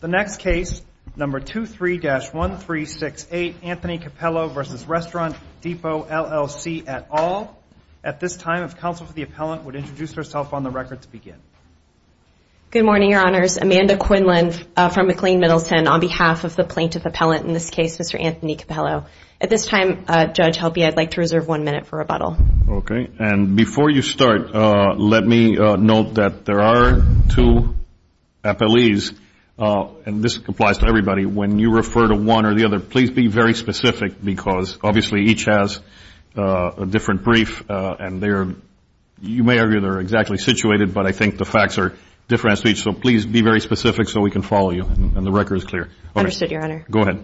The next case, number 23-1368, Anthony Cappello v. Restaurant Depot, LLC, et al. At this time, if counsel for the appellant would introduce herself on the record to begin. Good morning, your honors. Amanda Quinlan from McLean Middleton on behalf of the plaintiff appellant, in this case, Mr. Anthony Cappello. At this time, Judge Helpe, I'd like to reserve one minute for rebuttal. Okay, and before you start, let me note that there are two appellees, and this applies to everybody, when you refer to one or the other, please be very specific because obviously each has a different brief, and you may argue they're exactly situated, but I think the facts are different to each, so please be very specific so we can follow you, and the record is clear. Understood, your honor. Go ahead.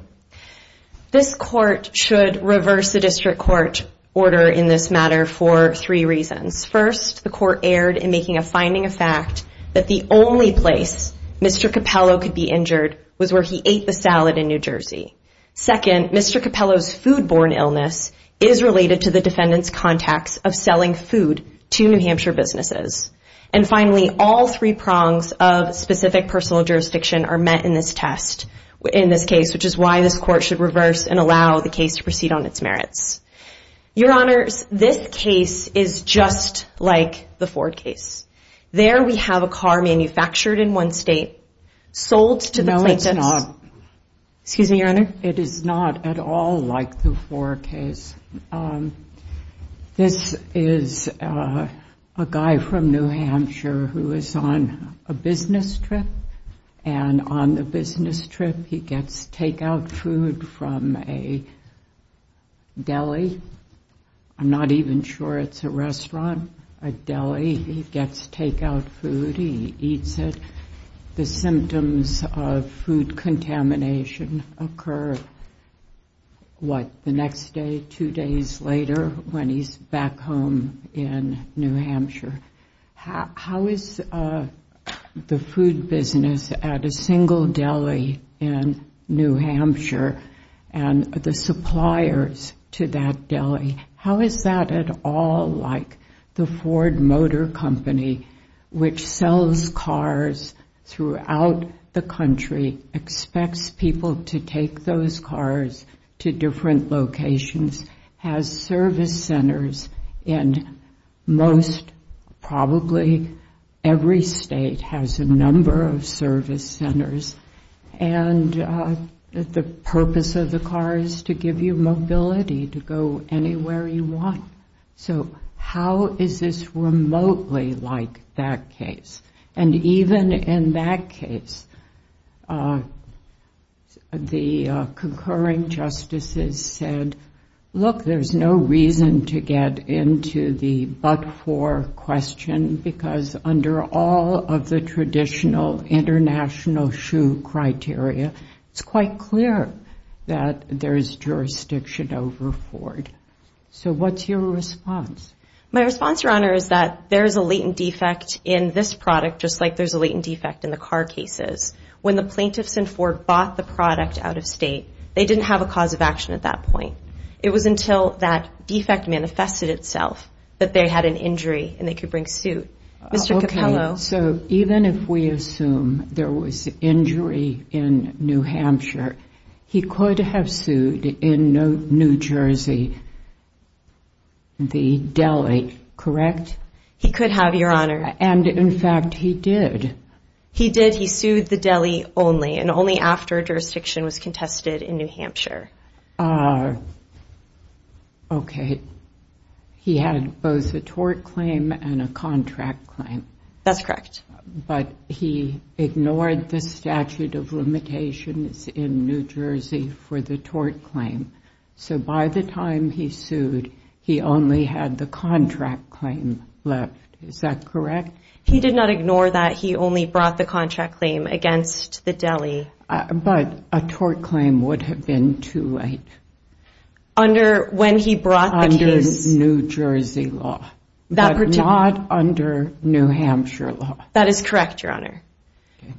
This court should reverse the district court order in this matter for three reasons. First, the court erred in making a finding of fact that the only place Mr. Cappello could be injured was where he ate the salad in New Jersey. Second, Mr. Cappello's foodborne illness is related to the defendant's contacts of selling food to New Hampshire businesses. And finally, all three prongs of specific personal jurisdiction are met in this test, in this case, which is why this court should reverse and allow the case to proceed on its merits. Your honors, this case is just like the Ford case. There we have a car manufactured in one state, sold to the plaintiffs. No, it's not. Excuse me, your honor. It is not at all like the Ford case. This is a guy from New Hampshire who is on a business trip, and on the business trip, he gets takeout food from a deli. I'm not even sure it's a restaurant, a deli. He gets takeout food. He eats it. The symptoms of food contamination occur, what? The next day, two days later, when he's back home in New Hampshire. How is the food business at a single deli in New Hampshire and the suppliers to that deli, how is that at all like the Ford Motor Company, which sells cars throughout the country, expects people to take those cars to different locations, has service centers, and most probably every state has a number of service centers. And the purpose of the car is to give you mobility to go anywhere you want. So how is this remotely like that case? And even in that case, the concurring justices said, look, there's no reason to get into the but-for question, because under all of the traditional international shoe criteria, it's quite clear that there is jurisdiction over Ford. So what's your response? My response, Your Honor, is that there is a latent defect in this product, just like there's a latent defect in the car cases. When the plaintiffs in Ford bought the product out of state, they didn't have a cause of action at that point. It was until that defect manifested itself that they had an injury and they could bring suit. Mr. Capello. So even if we assume there was injury in New Hampshire, he could have sued in New Jersey the deli, correct? He could have, Your Honor. And in fact, he did. He did. He sued the deli only, and only after jurisdiction was contested in New Hampshire. Okay. He had both a tort claim and a contract claim. That's correct. But he ignored the statute of limitations in New Jersey for the tort claim. So by the time he sued, he only had the contract claim left. Is that correct? He did not ignore that. He only brought the contract claim against the deli. But a tort claim would have been too late. Under when he brought the case. Under New Jersey law, but not under New Hampshire law. That is correct, Your Honor.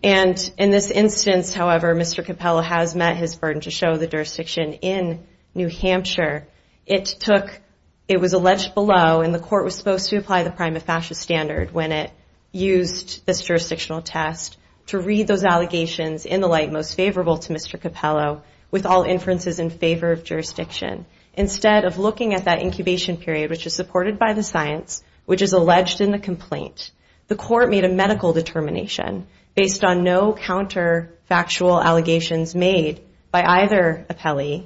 And in this instance, however, Mr. Capello has met his burden to show the jurisdiction in New Hampshire. It took, it was alleged below, and the court was supposed to apply the prima facie standard when it used this jurisdictional test to read those allegations in the light most favorable to Mr. Capello with all inferences in favor of jurisdiction. Instead of looking at that incubation period, which is supported by the science, which is alleged in the complaint, the court made a medical determination based on no counter factual allegations made by either appellee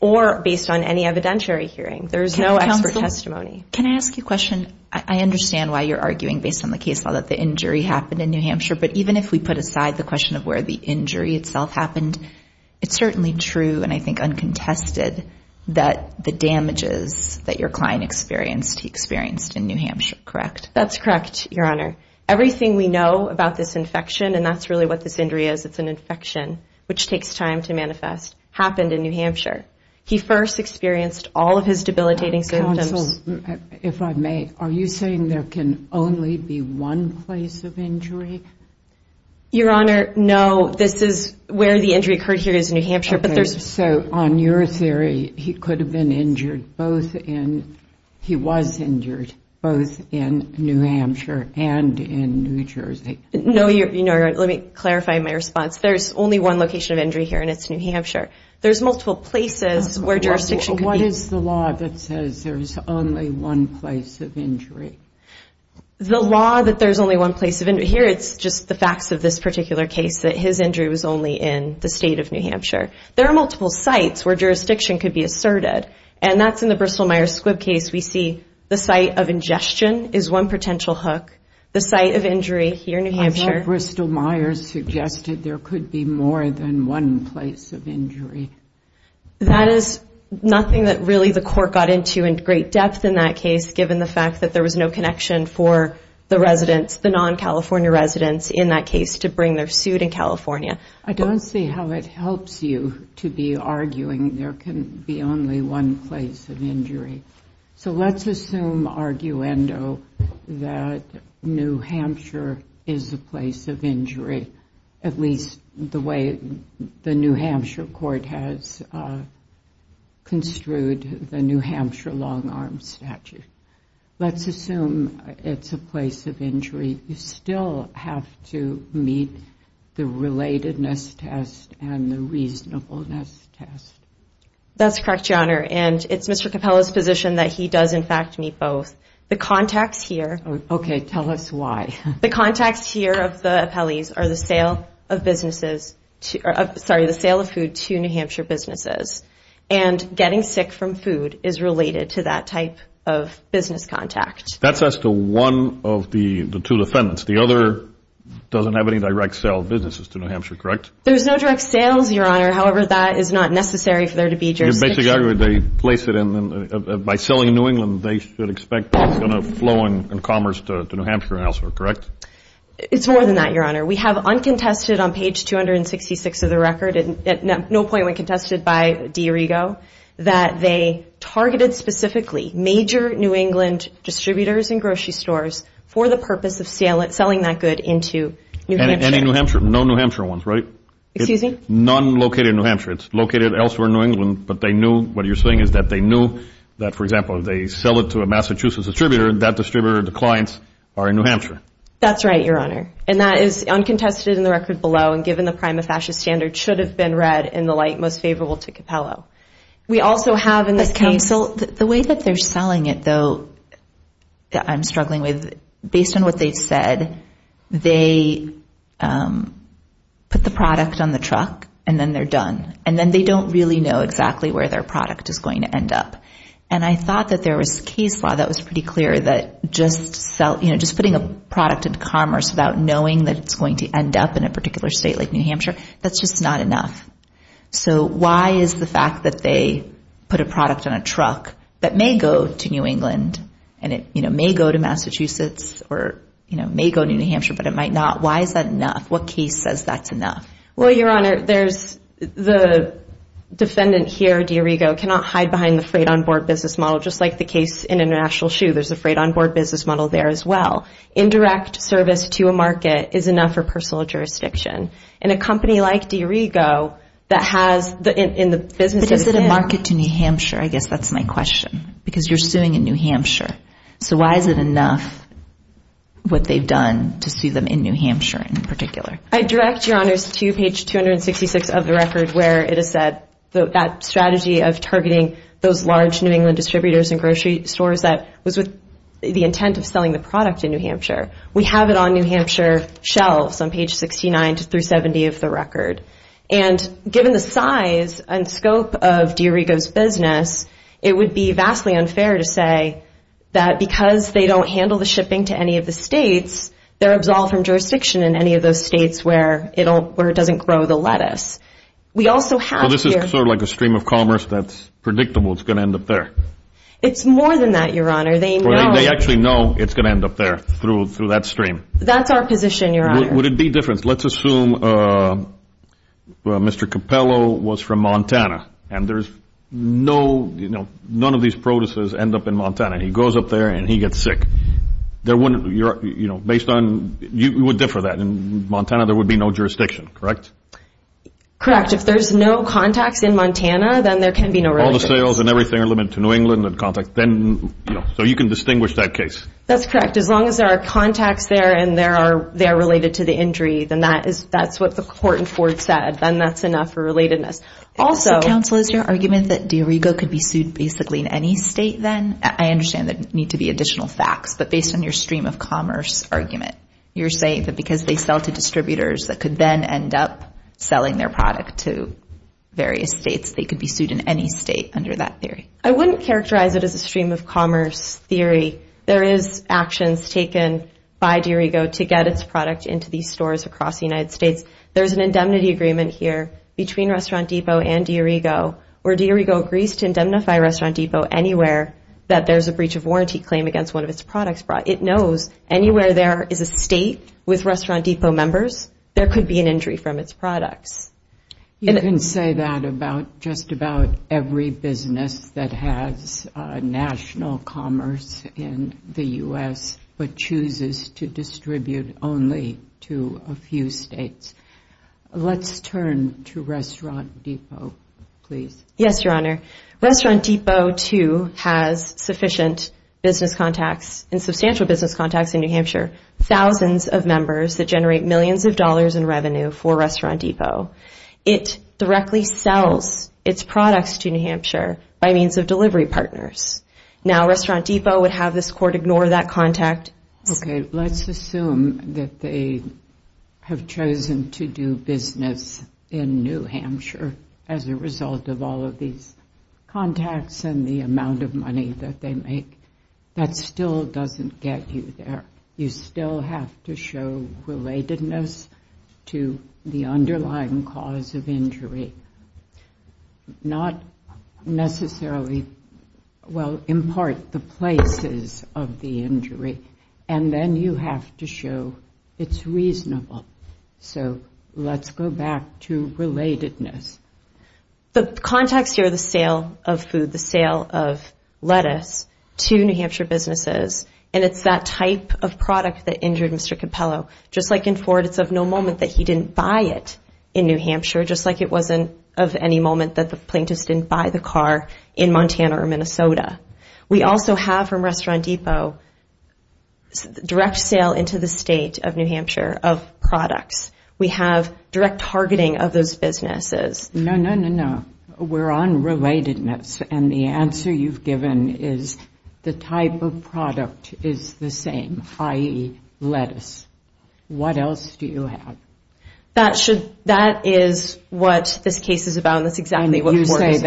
or based on any evidentiary hearing. There is no expert testimony. Can I ask you a question? I understand why you're arguing based on the case law that the injury happened in New Hampshire. But even if we put aside the question of where the injury itself happened, it's certainly true and I think uncontested that the damages that your client experienced, he experienced in New Hampshire, correct? That's correct, Your Honor. Everything we know about this infection, and that's really what this injury is, it's an infection, which takes time to manifest, happened in New Hampshire. He first experienced all of his debilitating symptoms. If I may, are you saying there can only be one place of injury? Your Honor, no. This is where the injury occurred here is New Hampshire, but there's... So on your theory, he could have been injured both in... He was injured both in New Hampshire and in New Jersey. No, Your Honor. Let me clarify my response. There's only one location of injury here and it's New Hampshire. There's multiple places where jurisdiction... What is the law that says there's only one place of injury? The law that there's only one place of injury... Here, it's just the facts of this particular case that his injury was only in the state of New Hampshire. There are multiple sites where jurisdiction could be asserted, and that's in the Bristol-Myers-Squibb case. We see the site of ingestion is one potential hook. The site of injury here in New Hampshire... I thought Bristol-Myers suggested there could be more than one place of injury. That is nothing that really the court got into in great depth in that case, given the fact that there was no connection for the residents, the non-California residents in that case, to bring their suit in California. I don't see how it helps you to be arguing there can be only one place of injury. So let's assume, arguendo, that New Hampshire is a place of injury, at least the way the New Hampshire court has construed the New Hampshire long-arm statute. Let's assume it's a place of injury. You still have to meet the relatedness test and the reasonableness test. That's correct, Your Honor, and it's Mr. Capella's position that he does, in fact, meet both. The contacts here... Okay, tell us why. The contacts here of the appellees are the sale of food to New Hampshire businesses, and getting sick from food is related to that type of business contact. That's as to one of the two defendants. The other doesn't have any direct sale of businesses to New Hampshire, correct? There's no direct sales, Your Honor. However, that is not necessary for there to be jurisdiction. Basically, they place it in... By selling New England, they should expect that it's going to flow in commerce to New Hampshire and elsewhere, correct? It's more than that, Your Honor. We have uncontested on page 266 of the record, and at no point when contested by DiRigo, that they targeted specifically major New England distributors and grocery stores for the purpose of selling that good into New Hampshire. And in New Hampshire, no New Hampshire ones, right? Excuse me? None located in New Hampshire. It's located elsewhere in New England, but they knew... For example, if they sell it to a Massachusetts distributor, that distributor, the clients are in New Hampshire. That's right, Your Honor. And that is uncontested in the record below, and given the prima facie standard, should have been read in the light most favorable to Capello. We also have in this case... But counsel, the way that they're selling it, though, that I'm struggling with, based on what they've said, they put the product on the truck, and then they're done. And then they don't really know exactly where their product is going to end up. And I thought that there was case law that was pretty clear that just putting a product in commerce without knowing that it's going to end up in a particular state like New Hampshire, that's just not enough. So why is the fact that they put a product on a truck that may go to New England, and it may go to Massachusetts, or may go to New Hampshire, but it might not, why is that enough? What case says that's enough? Well, Your Honor, there's the defendant here, DiRigo, cannot hide behind the freight onboard business model. Just like the case in International Shoe, there's a freight onboard business model there as well. Indirect service to a market is enough for personal jurisdiction. And a company like DiRigo that has in the business... But is it a market to New Hampshire? I guess that's my question, because you're suing in New Hampshire. So why is it enough what they've done to sue them in New Hampshire in particular? I direct, Your Honors, to page 266 of the record where it is said that strategy of targeting those large New England distributors and grocery stores that was with the intent of selling the product in New Hampshire. We have it on New Hampshire shelves on page 69 through 70 of the record. And given the size and scope of DiRigo's business, it would be vastly unfair to say that because they don't handle the shipping to any of the states, they're absolved from jurisdiction in any of those states where it doesn't grow the lettuce. So this is sort of like a stream of commerce that's predictable, it's going to end up there. It's more than that, Your Honor. They actually know it's going to end up there through that stream. That's our position, Your Honor. Would it be different? Let's assume Mr. Capello was from Montana. And there's no, you know, none of these producers end up in Montana. He goes up there and he gets sick. There wouldn't, you know, based on, you would differ that. In Montana, there would be no jurisdiction, correct? Correct. If there's no contacts in Montana, then there can be no revenue. All the sales and everything are limited to New England and contacts. Then, you know, so you can distinguish that case. That's correct. As long as there are contacts there and they are related to the injury, then that's what the court in Ford said. Then that's enough for relatedness. Also, Counsel, is your argument that DiRigo could be sued basically in any state then? I understand there need to be additional facts, but based on your stream of commerce argument, you're saying that because they sell to distributors that could then end up selling their product to various states, they could be sued in any state under that theory? I wouldn't characterize it as a stream of commerce theory. There is actions taken by DiRigo to get its product into these stores across the United States. There's an indemnity agreement here between Restaurant Depot and DiRigo where DiRigo agrees to indemnify Restaurant Depot anywhere that there's a breach of warranty claim against one of its products. It knows anywhere there is a state with Restaurant Depot members, there could be an injury from its products. You can say that about just about every business that has national commerce in the U.S. but chooses to distribute only to a few states. Let's turn to Restaurant Depot, please. Yes, Your Honor. Restaurant Depot, too, has sufficient business contacts and substantial business contacts in New Hampshire, thousands of members that generate millions of dollars in revenue for Restaurant Depot. It directly sells its products to New Hampshire by means of delivery partners. Now, Restaurant Depot would have this court ignore that contact. Okay, let's assume that they have chosen to do business in New Hampshire as a result of all of these contacts and the amount of money that they make. That still doesn't get you there. You still have to show relatedness to the underlying cause of injury, not necessarily, well, in part, the places of the injury, and then you have to show it's reasonable. So let's go back to relatedness. The contacts here are the sale of food, the sale of lettuce to New Hampshire businesses, and it's that type of product that injured Mr. Capello. Just like in Ford, it's of no moment that he didn't buy it in New Hampshire, just like it wasn't of any moment that the plaintiff didn't buy the car in Montana or Minnesota. We also have from Restaurant Depot direct sale into the state of New Hampshire of products. We have direct targeting of those businesses. No, no, no, no. We're on relatedness, and the answer you've given is the type of product is the same, i.e. lettuce. What else do you have? That is what this case is about, and that's exactly what Ford is about. And you say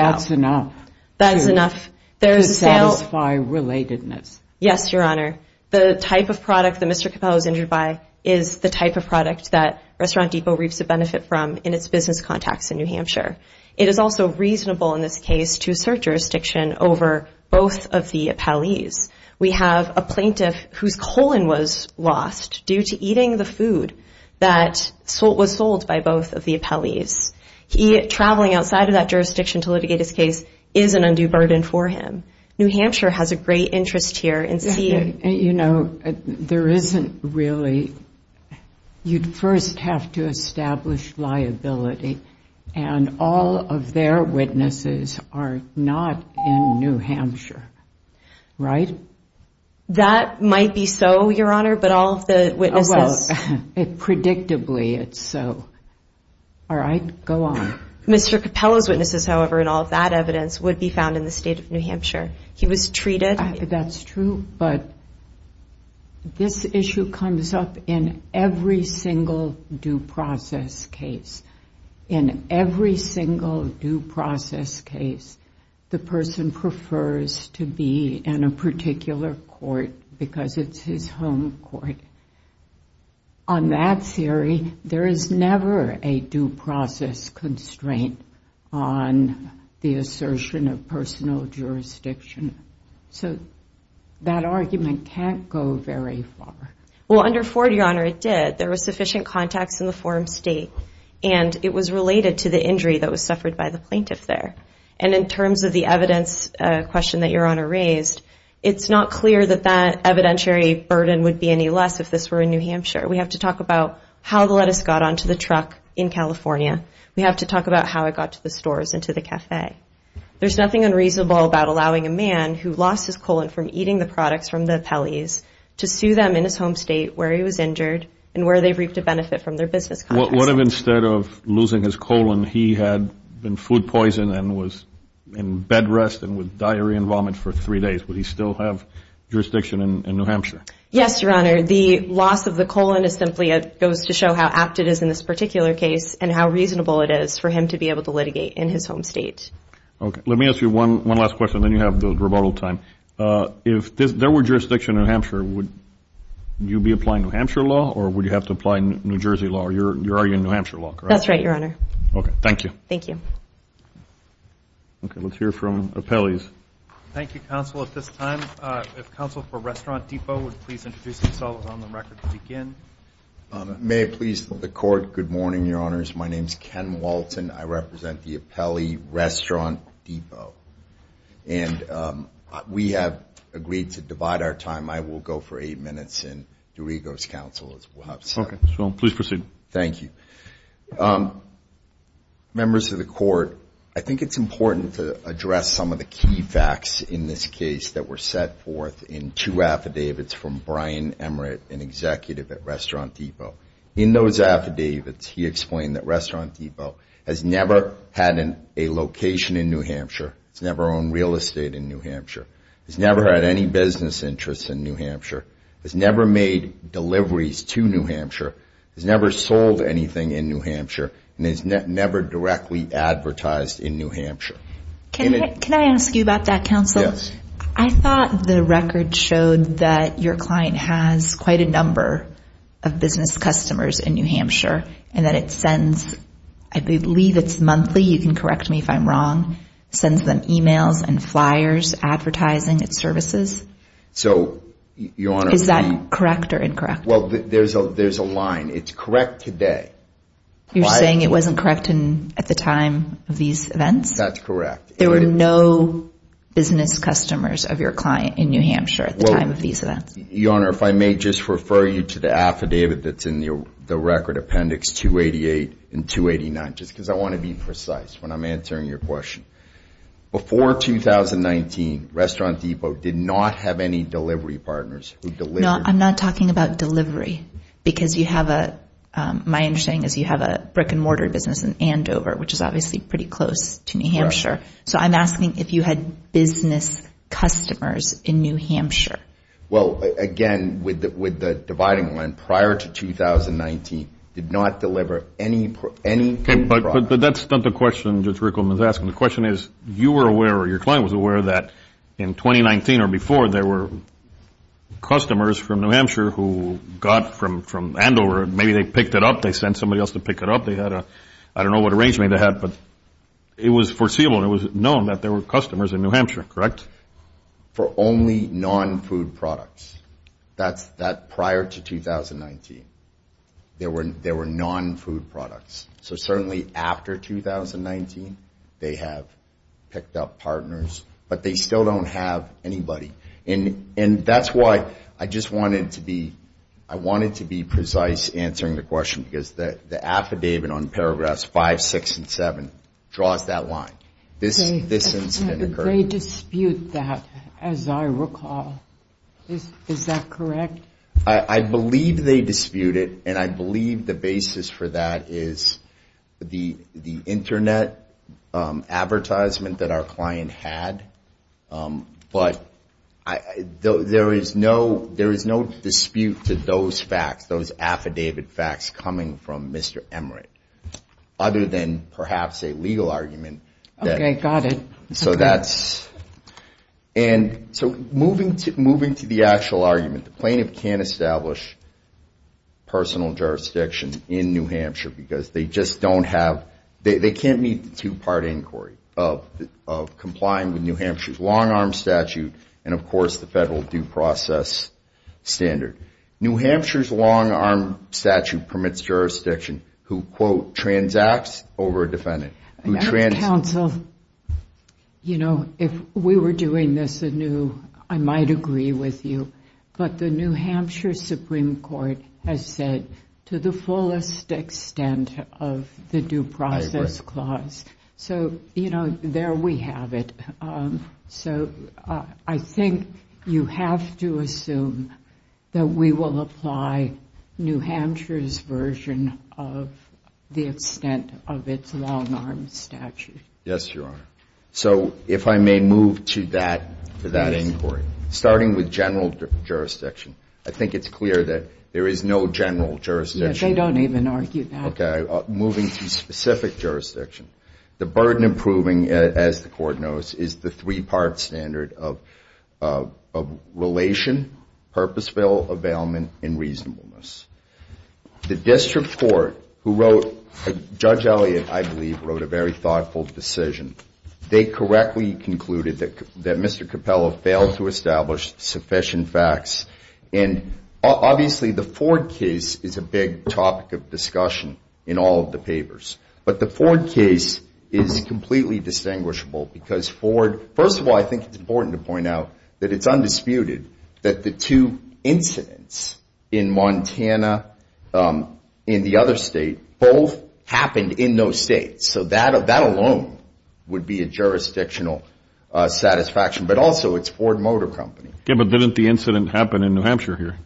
that's enough to satisfy relatedness. Yes, Your Honor. The type of product that Mr. Capello is injured by is the type of product that Restaurant Depot reaps the benefit from in its business contacts in New Hampshire. It is also reasonable in this case to assert jurisdiction over both of the appellees. We have a plaintiff whose colon was lost due to eating the food that was sold by both of the appellees. Traveling outside of that jurisdiction to litigate his case is an undue burden for him. New Hampshire has a great interest here in seeing. You know, there isn't really you'd first have to establish liability, and all of their witnesses are not in New Hampshire, right? That might be so, Your Honor, but all of the witnesses. Well, predictably it's so. All right, go on. Mr. Capello's witnesses, however, and all of that evidence would be found in the state of New Hampshire. He was treated. That's true, but this issue comes up in every single due process case. In every single due process case, the person prefers to be in a particular court because it's his home court. On that theory, there is never a due process constraint on the assertion of personal jurisdiction. So that argument can't go very far. Well, under Ford, Your Honor, it did. There were sufficient contacts in the forum state, and it was related to the injury that was suffered by the plaintiff there. And in terms of the evidence question that Your Honor raised, it's not clear that that evidentiary burden would be any less if this were in New Hampshire. We have to talk about how the lettuce got onto the truck in California. We have to talk about how it got to the stores and to the cafe. There's nothing unreasonable about allowing a man who lost his colon from eating the products from the Peleys to sue them in his home state where he was injured and where they've reaped a benefit from their business contacts. What if instead of losing his colon, he had been food poisoned and was in bed rest and with diarrhea and vomit for three days? Would he still have jurisdiction in New Hampshire? Yes, Your Honor. The loss of the colon simply goes to show how apt it is in this particular case and how reasonable it is for him to be able to litigate in his home state. Okay. Let me ask you one last question, then you have the rebuttal time. If there were jurisdiction in New Hampshire, would you be applying New Hampshire law or would you have to apply New Jersey law? You're arguing New Hampshire law, correct? That's right, Your Honor. Okay. Thank you. Thank you. Okay. Let's hear from the Peleys. Thank you, Counsel. At this time, if Counsel for Restaurant Depot would please introduce themselves on the record to begin. May it please the Court. Good morning, Your Honors. My name is Ken Walton. I represent the Peley Restaurant Depot. And we have agreed to divide our time. I will go for eight minutes and Dorigo's counsel as well. Okay. Please proceed. Thank you. Members of the Court, I think it's important to address some of the key facts in this case that were set forth in two affidavits from Brian Emmert, an executive at Restaurant Depot. In those affidavits, he explained that Restaurant Depot has never had a location in New Hampshire. It's never owned real estate in New Hampshire. It's never had any business interests in New Hampshire. It's never made deliveries to New Hampshire. It's never sold anything in New Hampshire. And it's never directly advertised in New Hampshire. Can I ask you about that, Counsel? Yes. I thought the record showed that your client has quite a number of business customers in New Hampshire and that it sends, I believe it's monthly, you can correct me if I'm wrong, sends them emails and flyers advertising its services. So, Your Honor. Is that correct or incorrect? Well, there's a line. It's correct today. You're saying it wasn't correct at the time of these events? That's correct. There were no business customers of your client in New Hampshire at the time of these events? Your Honor, if I may just refer you to the affidavit that's in the record, Appendix 288 and 289, just because I want to be precise when I'm answering your question. Before 2019, Restaurant Depot did not have any delivery partners. No, I'm not talking about delivery because you have a – my understanding is you have a brick-and-mortar business in Andover, which is obviously pretty close to New Hampshire. So I'm asking if you had business customers in New Hampshire. Well, again, with the dividing line, prior to 2019, did not deliver any product. But that's not the question Judge Rickleman is asking. The question is, you were aware or your client was aware that in 2019 or before, there were customers from New Hampshire who got from Andover. Maybe they picked it up. They sent somebody else to pick it up. They had a – I don't know what arrangement they had, but it was foreseeable. It was known that there were customers in New Hampshire, correct? For only non-food products. That's prior to 2019. There were non-food products. So certainly after 2019, they have picked up partners. But they still don't have anybody. And that's why I just wanted to be – I wanted to be precise answering the question because the affidavit on paragraphs 5, 6, and 7 draws that line. This incident occurred. They dispute that, as I recall. Is that correct? I believe they dispute it. And I believe the basis for that is the Internet advertisement that our client had. But there is no dispute to those facts, those affidavit facts coming from Mr. Emmerich, other than perhaps a legal argument. Okay, got it. So that's – and so moving to the actual argument. The plaintiff can't establish personal jurisdiction in New Hampshire because they just don't have – they can't meet the two-part inquiry of complying with New Hampshire's long-arm statute and, of course, the federal due process standard. New Hampshire's long-arm statute permits jurisdiction who, quote, transacts over a defendant. Counsel, you know, if we were doing this anew, I might agree with you. But the New Hampshire Supreme Court has said to the fullest extent of the due process clause. I agree. So, you know, there we have it. So I think you have to assume that we will apply New Hampshire's version of the extent of its long-arm statute. Yes, Your Honor. So if I may move to that inquiry. Starting with general jurisdiction, I think it's clear that there is no general jurisdiction. Yes, they don't even argue that. Okay. Moving to specific jurisdiction, the burden of proving, as the Court knows, is the three-part standard of relation, purposeful availment, and reasonableness. The district court who wrote, Judge Elliott, I believe, wrote a very thoughtful decision. They correctly concluded that Mr. Capello failed to establish sufficient facts. And obviously, the Ford case is a big topic of discussion in all of the papers. But the Ford case is completely distinguishable because Ford, first of all, I think it's important to point out that it's undisputed that the two incidents in Montana and the other state both happened in those states. So that alone would be a jurisdictional satisfaction. But also, it's Ford Motor Company. Yes, but didn't the incident happen in New Hampshire here?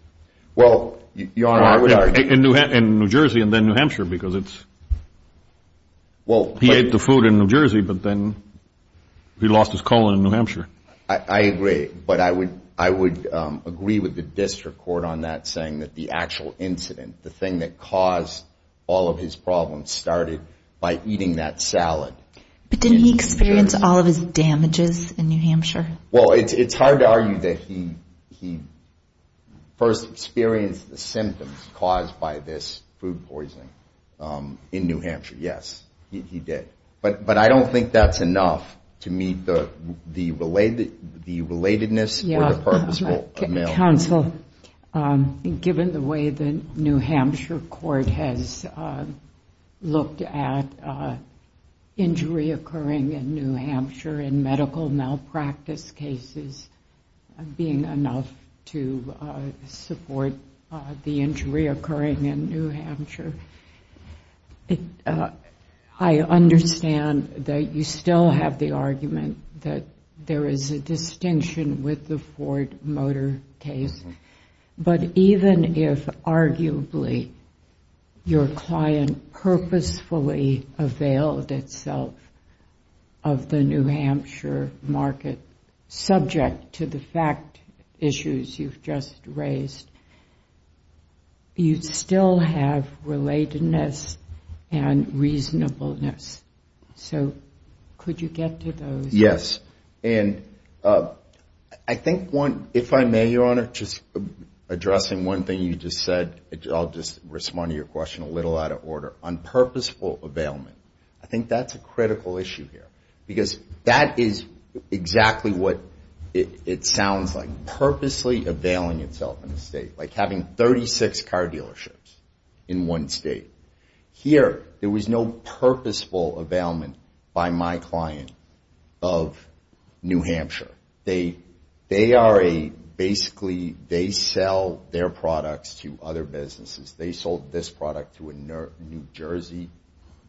Well, Your Honor, I would argue. In New Jersey and then New Hampshire because it's he ate the food in New Jersey, but then he lost his colon in New Hampshire. I agree. But I would agree with the district court on that saying that the actual incident, the thing that caused all of his problems started by eating that salad. But didn't he experience all of his damages in New Hampshire? Well, it's hard to argue that he first experienced the symptoms caused by this food poisoning in New Hampshire. Yes, he did. But I don't think that's enough to meet the relatedness or the purposeful amount. Counsel, given the way the New Hampshire court has looked at injury occurring in New Hampshire and medical malpractice cases being enough to support the injury occurring in New Hampshire, I understand that you still have the argument that there is a distinction with the Ford Motor case. But even if, arguably, your client purposefully availed itself of the New Hampshire market, subject to the fact issues you've just raised, you still have relatedness and reasonableness. So could you get to those? Yes. And I think, if I may, Your Honor, just addressing one thing you just said, I'll just respond to your question a little out of order. On purposeful availment, I think that's a critical issue here because that is exactly what it sounds like, purposely availing itself in the state, like having 36 car dealerships in one state. Here, there was no purposeful availment by my client of New Hampshire. They are a basically they sell their products to other businesses. They sold this product to a New Jersey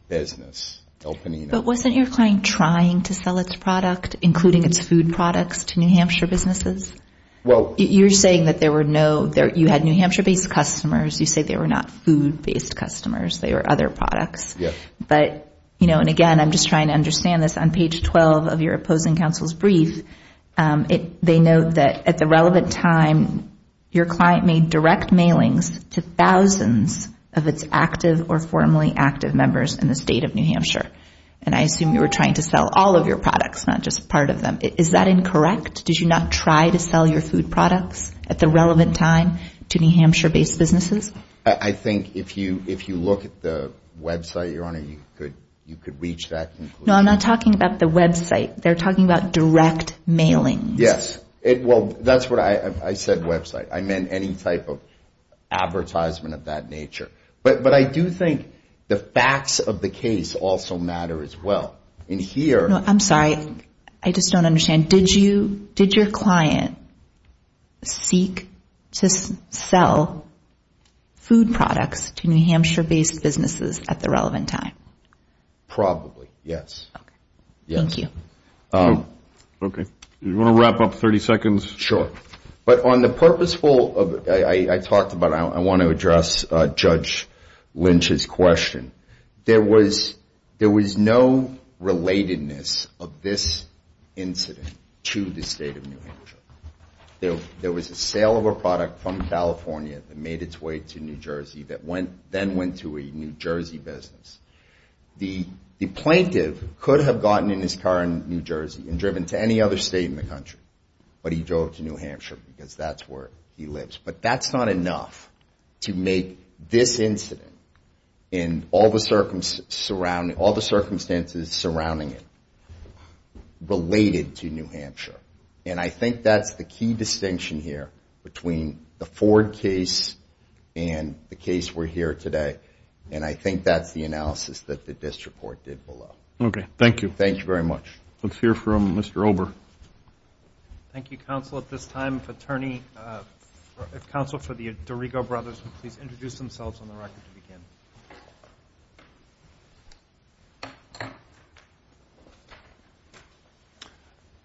business, El Panino. But wasn't your client trying to sell its product, including its food products, to New Hampshire businesses? You're saying that you had New Hampshire-based customers. You said they were not food-based customers. They were other products. And, again, I'm just trying to understand this. On page 12 of your opposing counsel's brief, they note that, at the relevant time, your client made direct mailings to thousands of its active or formerly active members in the state of New Hampshire. And I assume you were trying to sell all of your products, not just part of them. Is that incorrect? Did you not try to sell your food products at the relevant time to New Hampshire-based businesses? I think if you look at the website, Your Honor, you could reach that conclusion. No, I'm not talking about the website. They're talking about direct mailings. Yes. Well, that's what I said, website. I meant any type of advertisement of that nature. But I do think the facts of the case also matter as well. I'm sorry. I just don't understand. Did your client seek to sell food products to New Hampshire-based businesses at the relevant time? Probably, yes. Thank you. Okay. Do you want to wrap up 30 seconds? Sure. But on the purposeful, I talked about, I want to address Judge Lynch's question. There was no relatedness of this incident to the state of New Hampshire. There was a sale of a product from California that made its way to New Jersey that then went to a New Jersey business. The plaintiff could have gotten in his car in New Jersey and driven to any other state in the country. But he drove to New Hampshire because that's where he lives. But that's not enough to make this incident and all the circumstances surrounding it related to New Hampshire. And I think that's the key distinction here between the Ford case and the case we're hearing today. And I think that's the analysis that the district court did below. Okay. Thank you. Thank you very much. Let's hear from Mr. Ober. Thank you, counsel. At this time, if counsel for the Dorigo Brothers would please introduce themselves on the record to begin.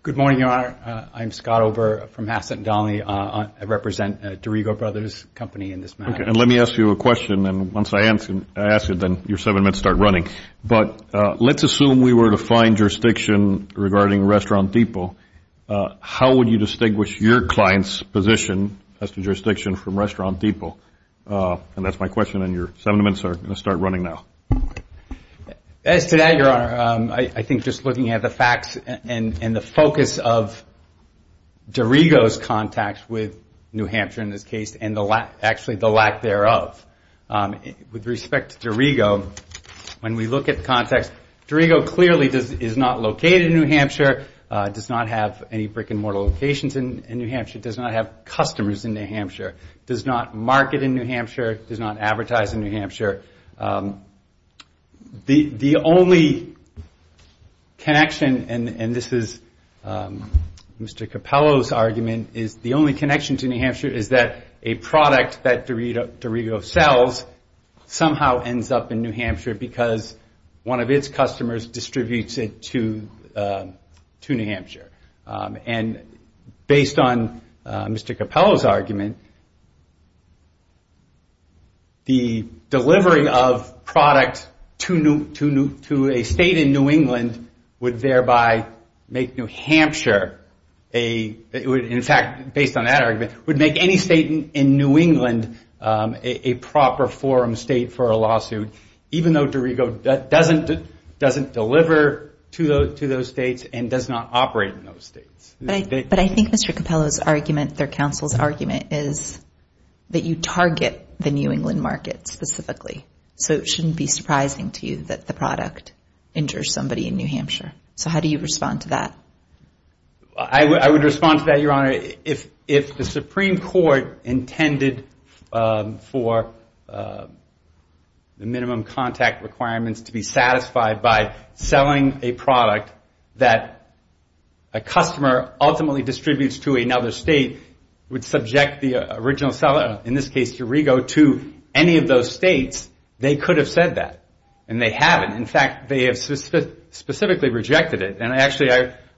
Good morning, Your Honor. I'm Scott Ober from Hassett & Donnelly. I represent Dorigo Brothers Company in this matter. Okay. And let me ask you a question. And once I ask it, then your seven minutes start running. But let's assume we were to find jurisdiction regarding Restaurant Depot. How would you distinguish your client's position as to jurisdiction from Restaurant Depot? And that's my question. And your seven minutes are going to start running now. As to that, Your Honor, I think just looking at the facts and the focus of Dorigo's contacts with New Hampshire in this case and actually the lack thereof, with respect to Dorigo, when we look at the context, Dorigo clearly is not located in New Hampshire, does not have any brick-and-mortar locations in New Hampshire, does not have customers in New Hampshire, does not market in New Hampshire, does not advertise in New Hampshire. The only connection, and this is Mr. Capello's argument, is the only connection to New Hampshire is that a product that Dorigo sells somehow ends up in New Hampshire because one of its customers distributes it to New Hampshire. And based on Mr. Capello's argument, the delivery of product to a state in New England would thereby make New Hampshire a, in fact, based on that argument, would make any state in New England a proper forum state for a lawsuit, even though Dorigo doesn't deliver to those states and does not operate in those states. But I think Mr. Capello's argument, their counsel's argument, is that you target the New England market specifically, so it shouldn't be surprising to you that the product injures somebody in New Hampshire. So how do you respond to that? I would respond to that, Your Honor. If the Supreme Court intended for the minimum contact requirements to be satisfied by selling a product that a customer ultimately distributes to another state would subject the original seller, in this case Dorigo, to any of those states, they could have said that. And they haven't. In fact, they have specifically rejected it. And actually,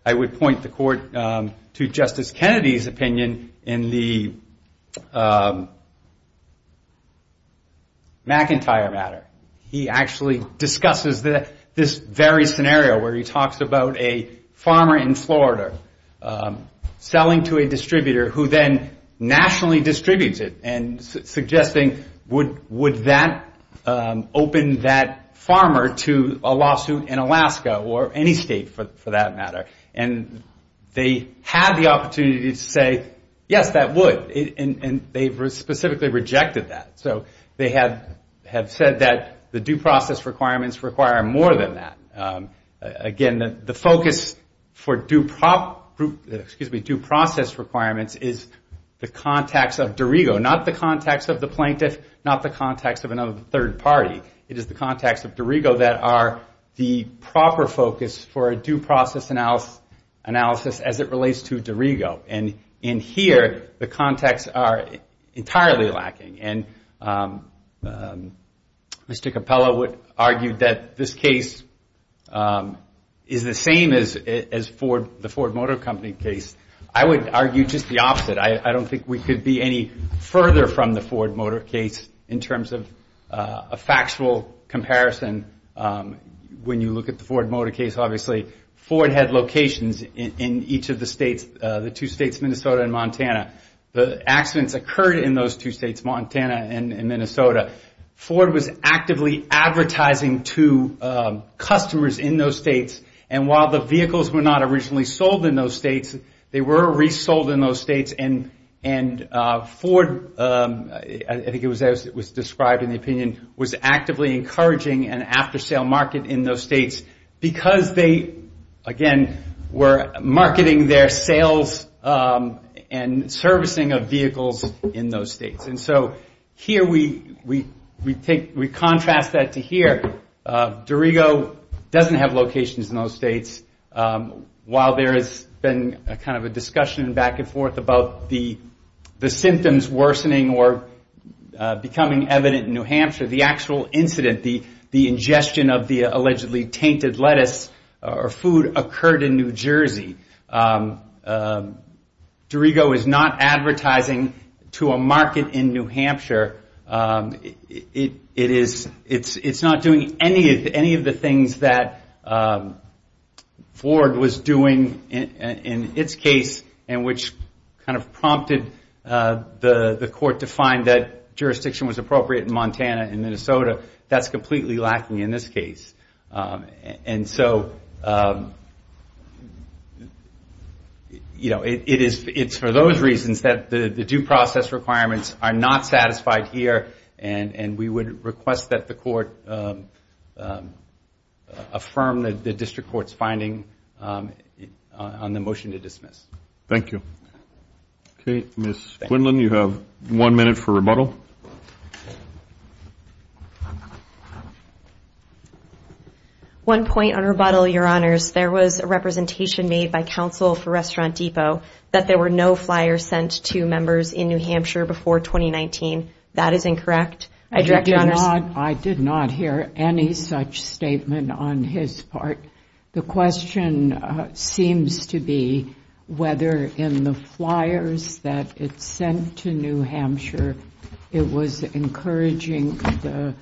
I would point the court to Justice Kennedy's opinion in the McIntyre matter. He actually discusses this very scenario where he talks about a farmer in Florida selling to a distributor who then nationally distributes it and suggesting would that open that farmer to a lawsuit in Alaska or any state for that matter. And they had the opportunity to say, yes, that would. And they specifically rejected that. So they have said that the due process requirements require more than that. Again, the focus for due process requirements is the contacts of Dorigo, not the contacts of the plaintiff, not the contacts of another third party. It is the contacts of Dorigo that are the proper focus for a due process analysis as it relates to Dorigo. And in here, the contacts are entirely lacking. And Mr. Capella would argue that this case is the same as the Ford Motor Company case. I would argue just the opposite. I don't think we could be any further from the Ford Motor case in terms of a factual comparison. When you look at the Ford Motor case, obviously Ford had locations in each of the states, the two states, Minnesota and Montana. The accidents occurred in those two states, Montana and Minnesota. Ford was actively advertising to customers in those states. And while the vehicles were not originally sold in those states, they were resold in those states and Ford, I think it was as it was described in the opinion, was actively encouraging an after-sale market in those states because they, again, were marketing their sales and servicing of vehicles in those states. And so here we contrast that to here. Dorigo doesn't have locations in those states. While there has been kind of a discussion back and forth about the symptoms worsening or becoming evident in New Hampshire, the actual incident, the ingestion of the allegedly tainted lettuce or food occurred in New Jersey. Dorigo is not advertising to a market in New Hampshire. It is not doing any of the things that Ford was doing in its case and which kind of prompted the court to find that jurisdiction was appropriate in Montana and Minnesota. That's completely lacking in this case. And so it's for those reasons that the due process requirements are not satisfied here and we would request that the court affirm the district court's finding on the motion to dismiss. Thank you. Okay, Ms. Quinlan, you have one minute for rebuttal. One point on rebuttal, Your Honors. There was a representation made by counsel for Restaurant Depot that there were no flyers sent to members in New Hampshire before 2019. That is incorrect. I did not hear any such statement on his part. The question seems to be whether in the flyers that it sent to New Hampshire, it was encouraging the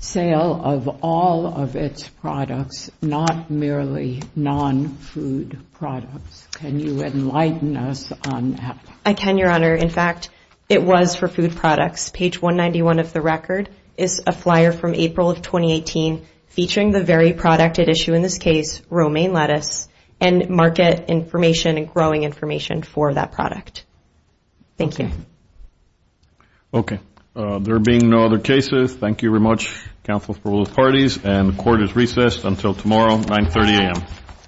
sale of all of its products, not merely non-food products. Can you enlighten us on that? I can, Your Honor. In fact, it was for food products. Page 191 of the record is a flyer from April of 2018 featuring the very product at issue in this case, romaine lettuce, and market information and growing information for that product. Thank you. Okay. There being no other cases, thank you very much. Counsel is approved by both parties, and the court is recessed until tomorrow, 930 A.M.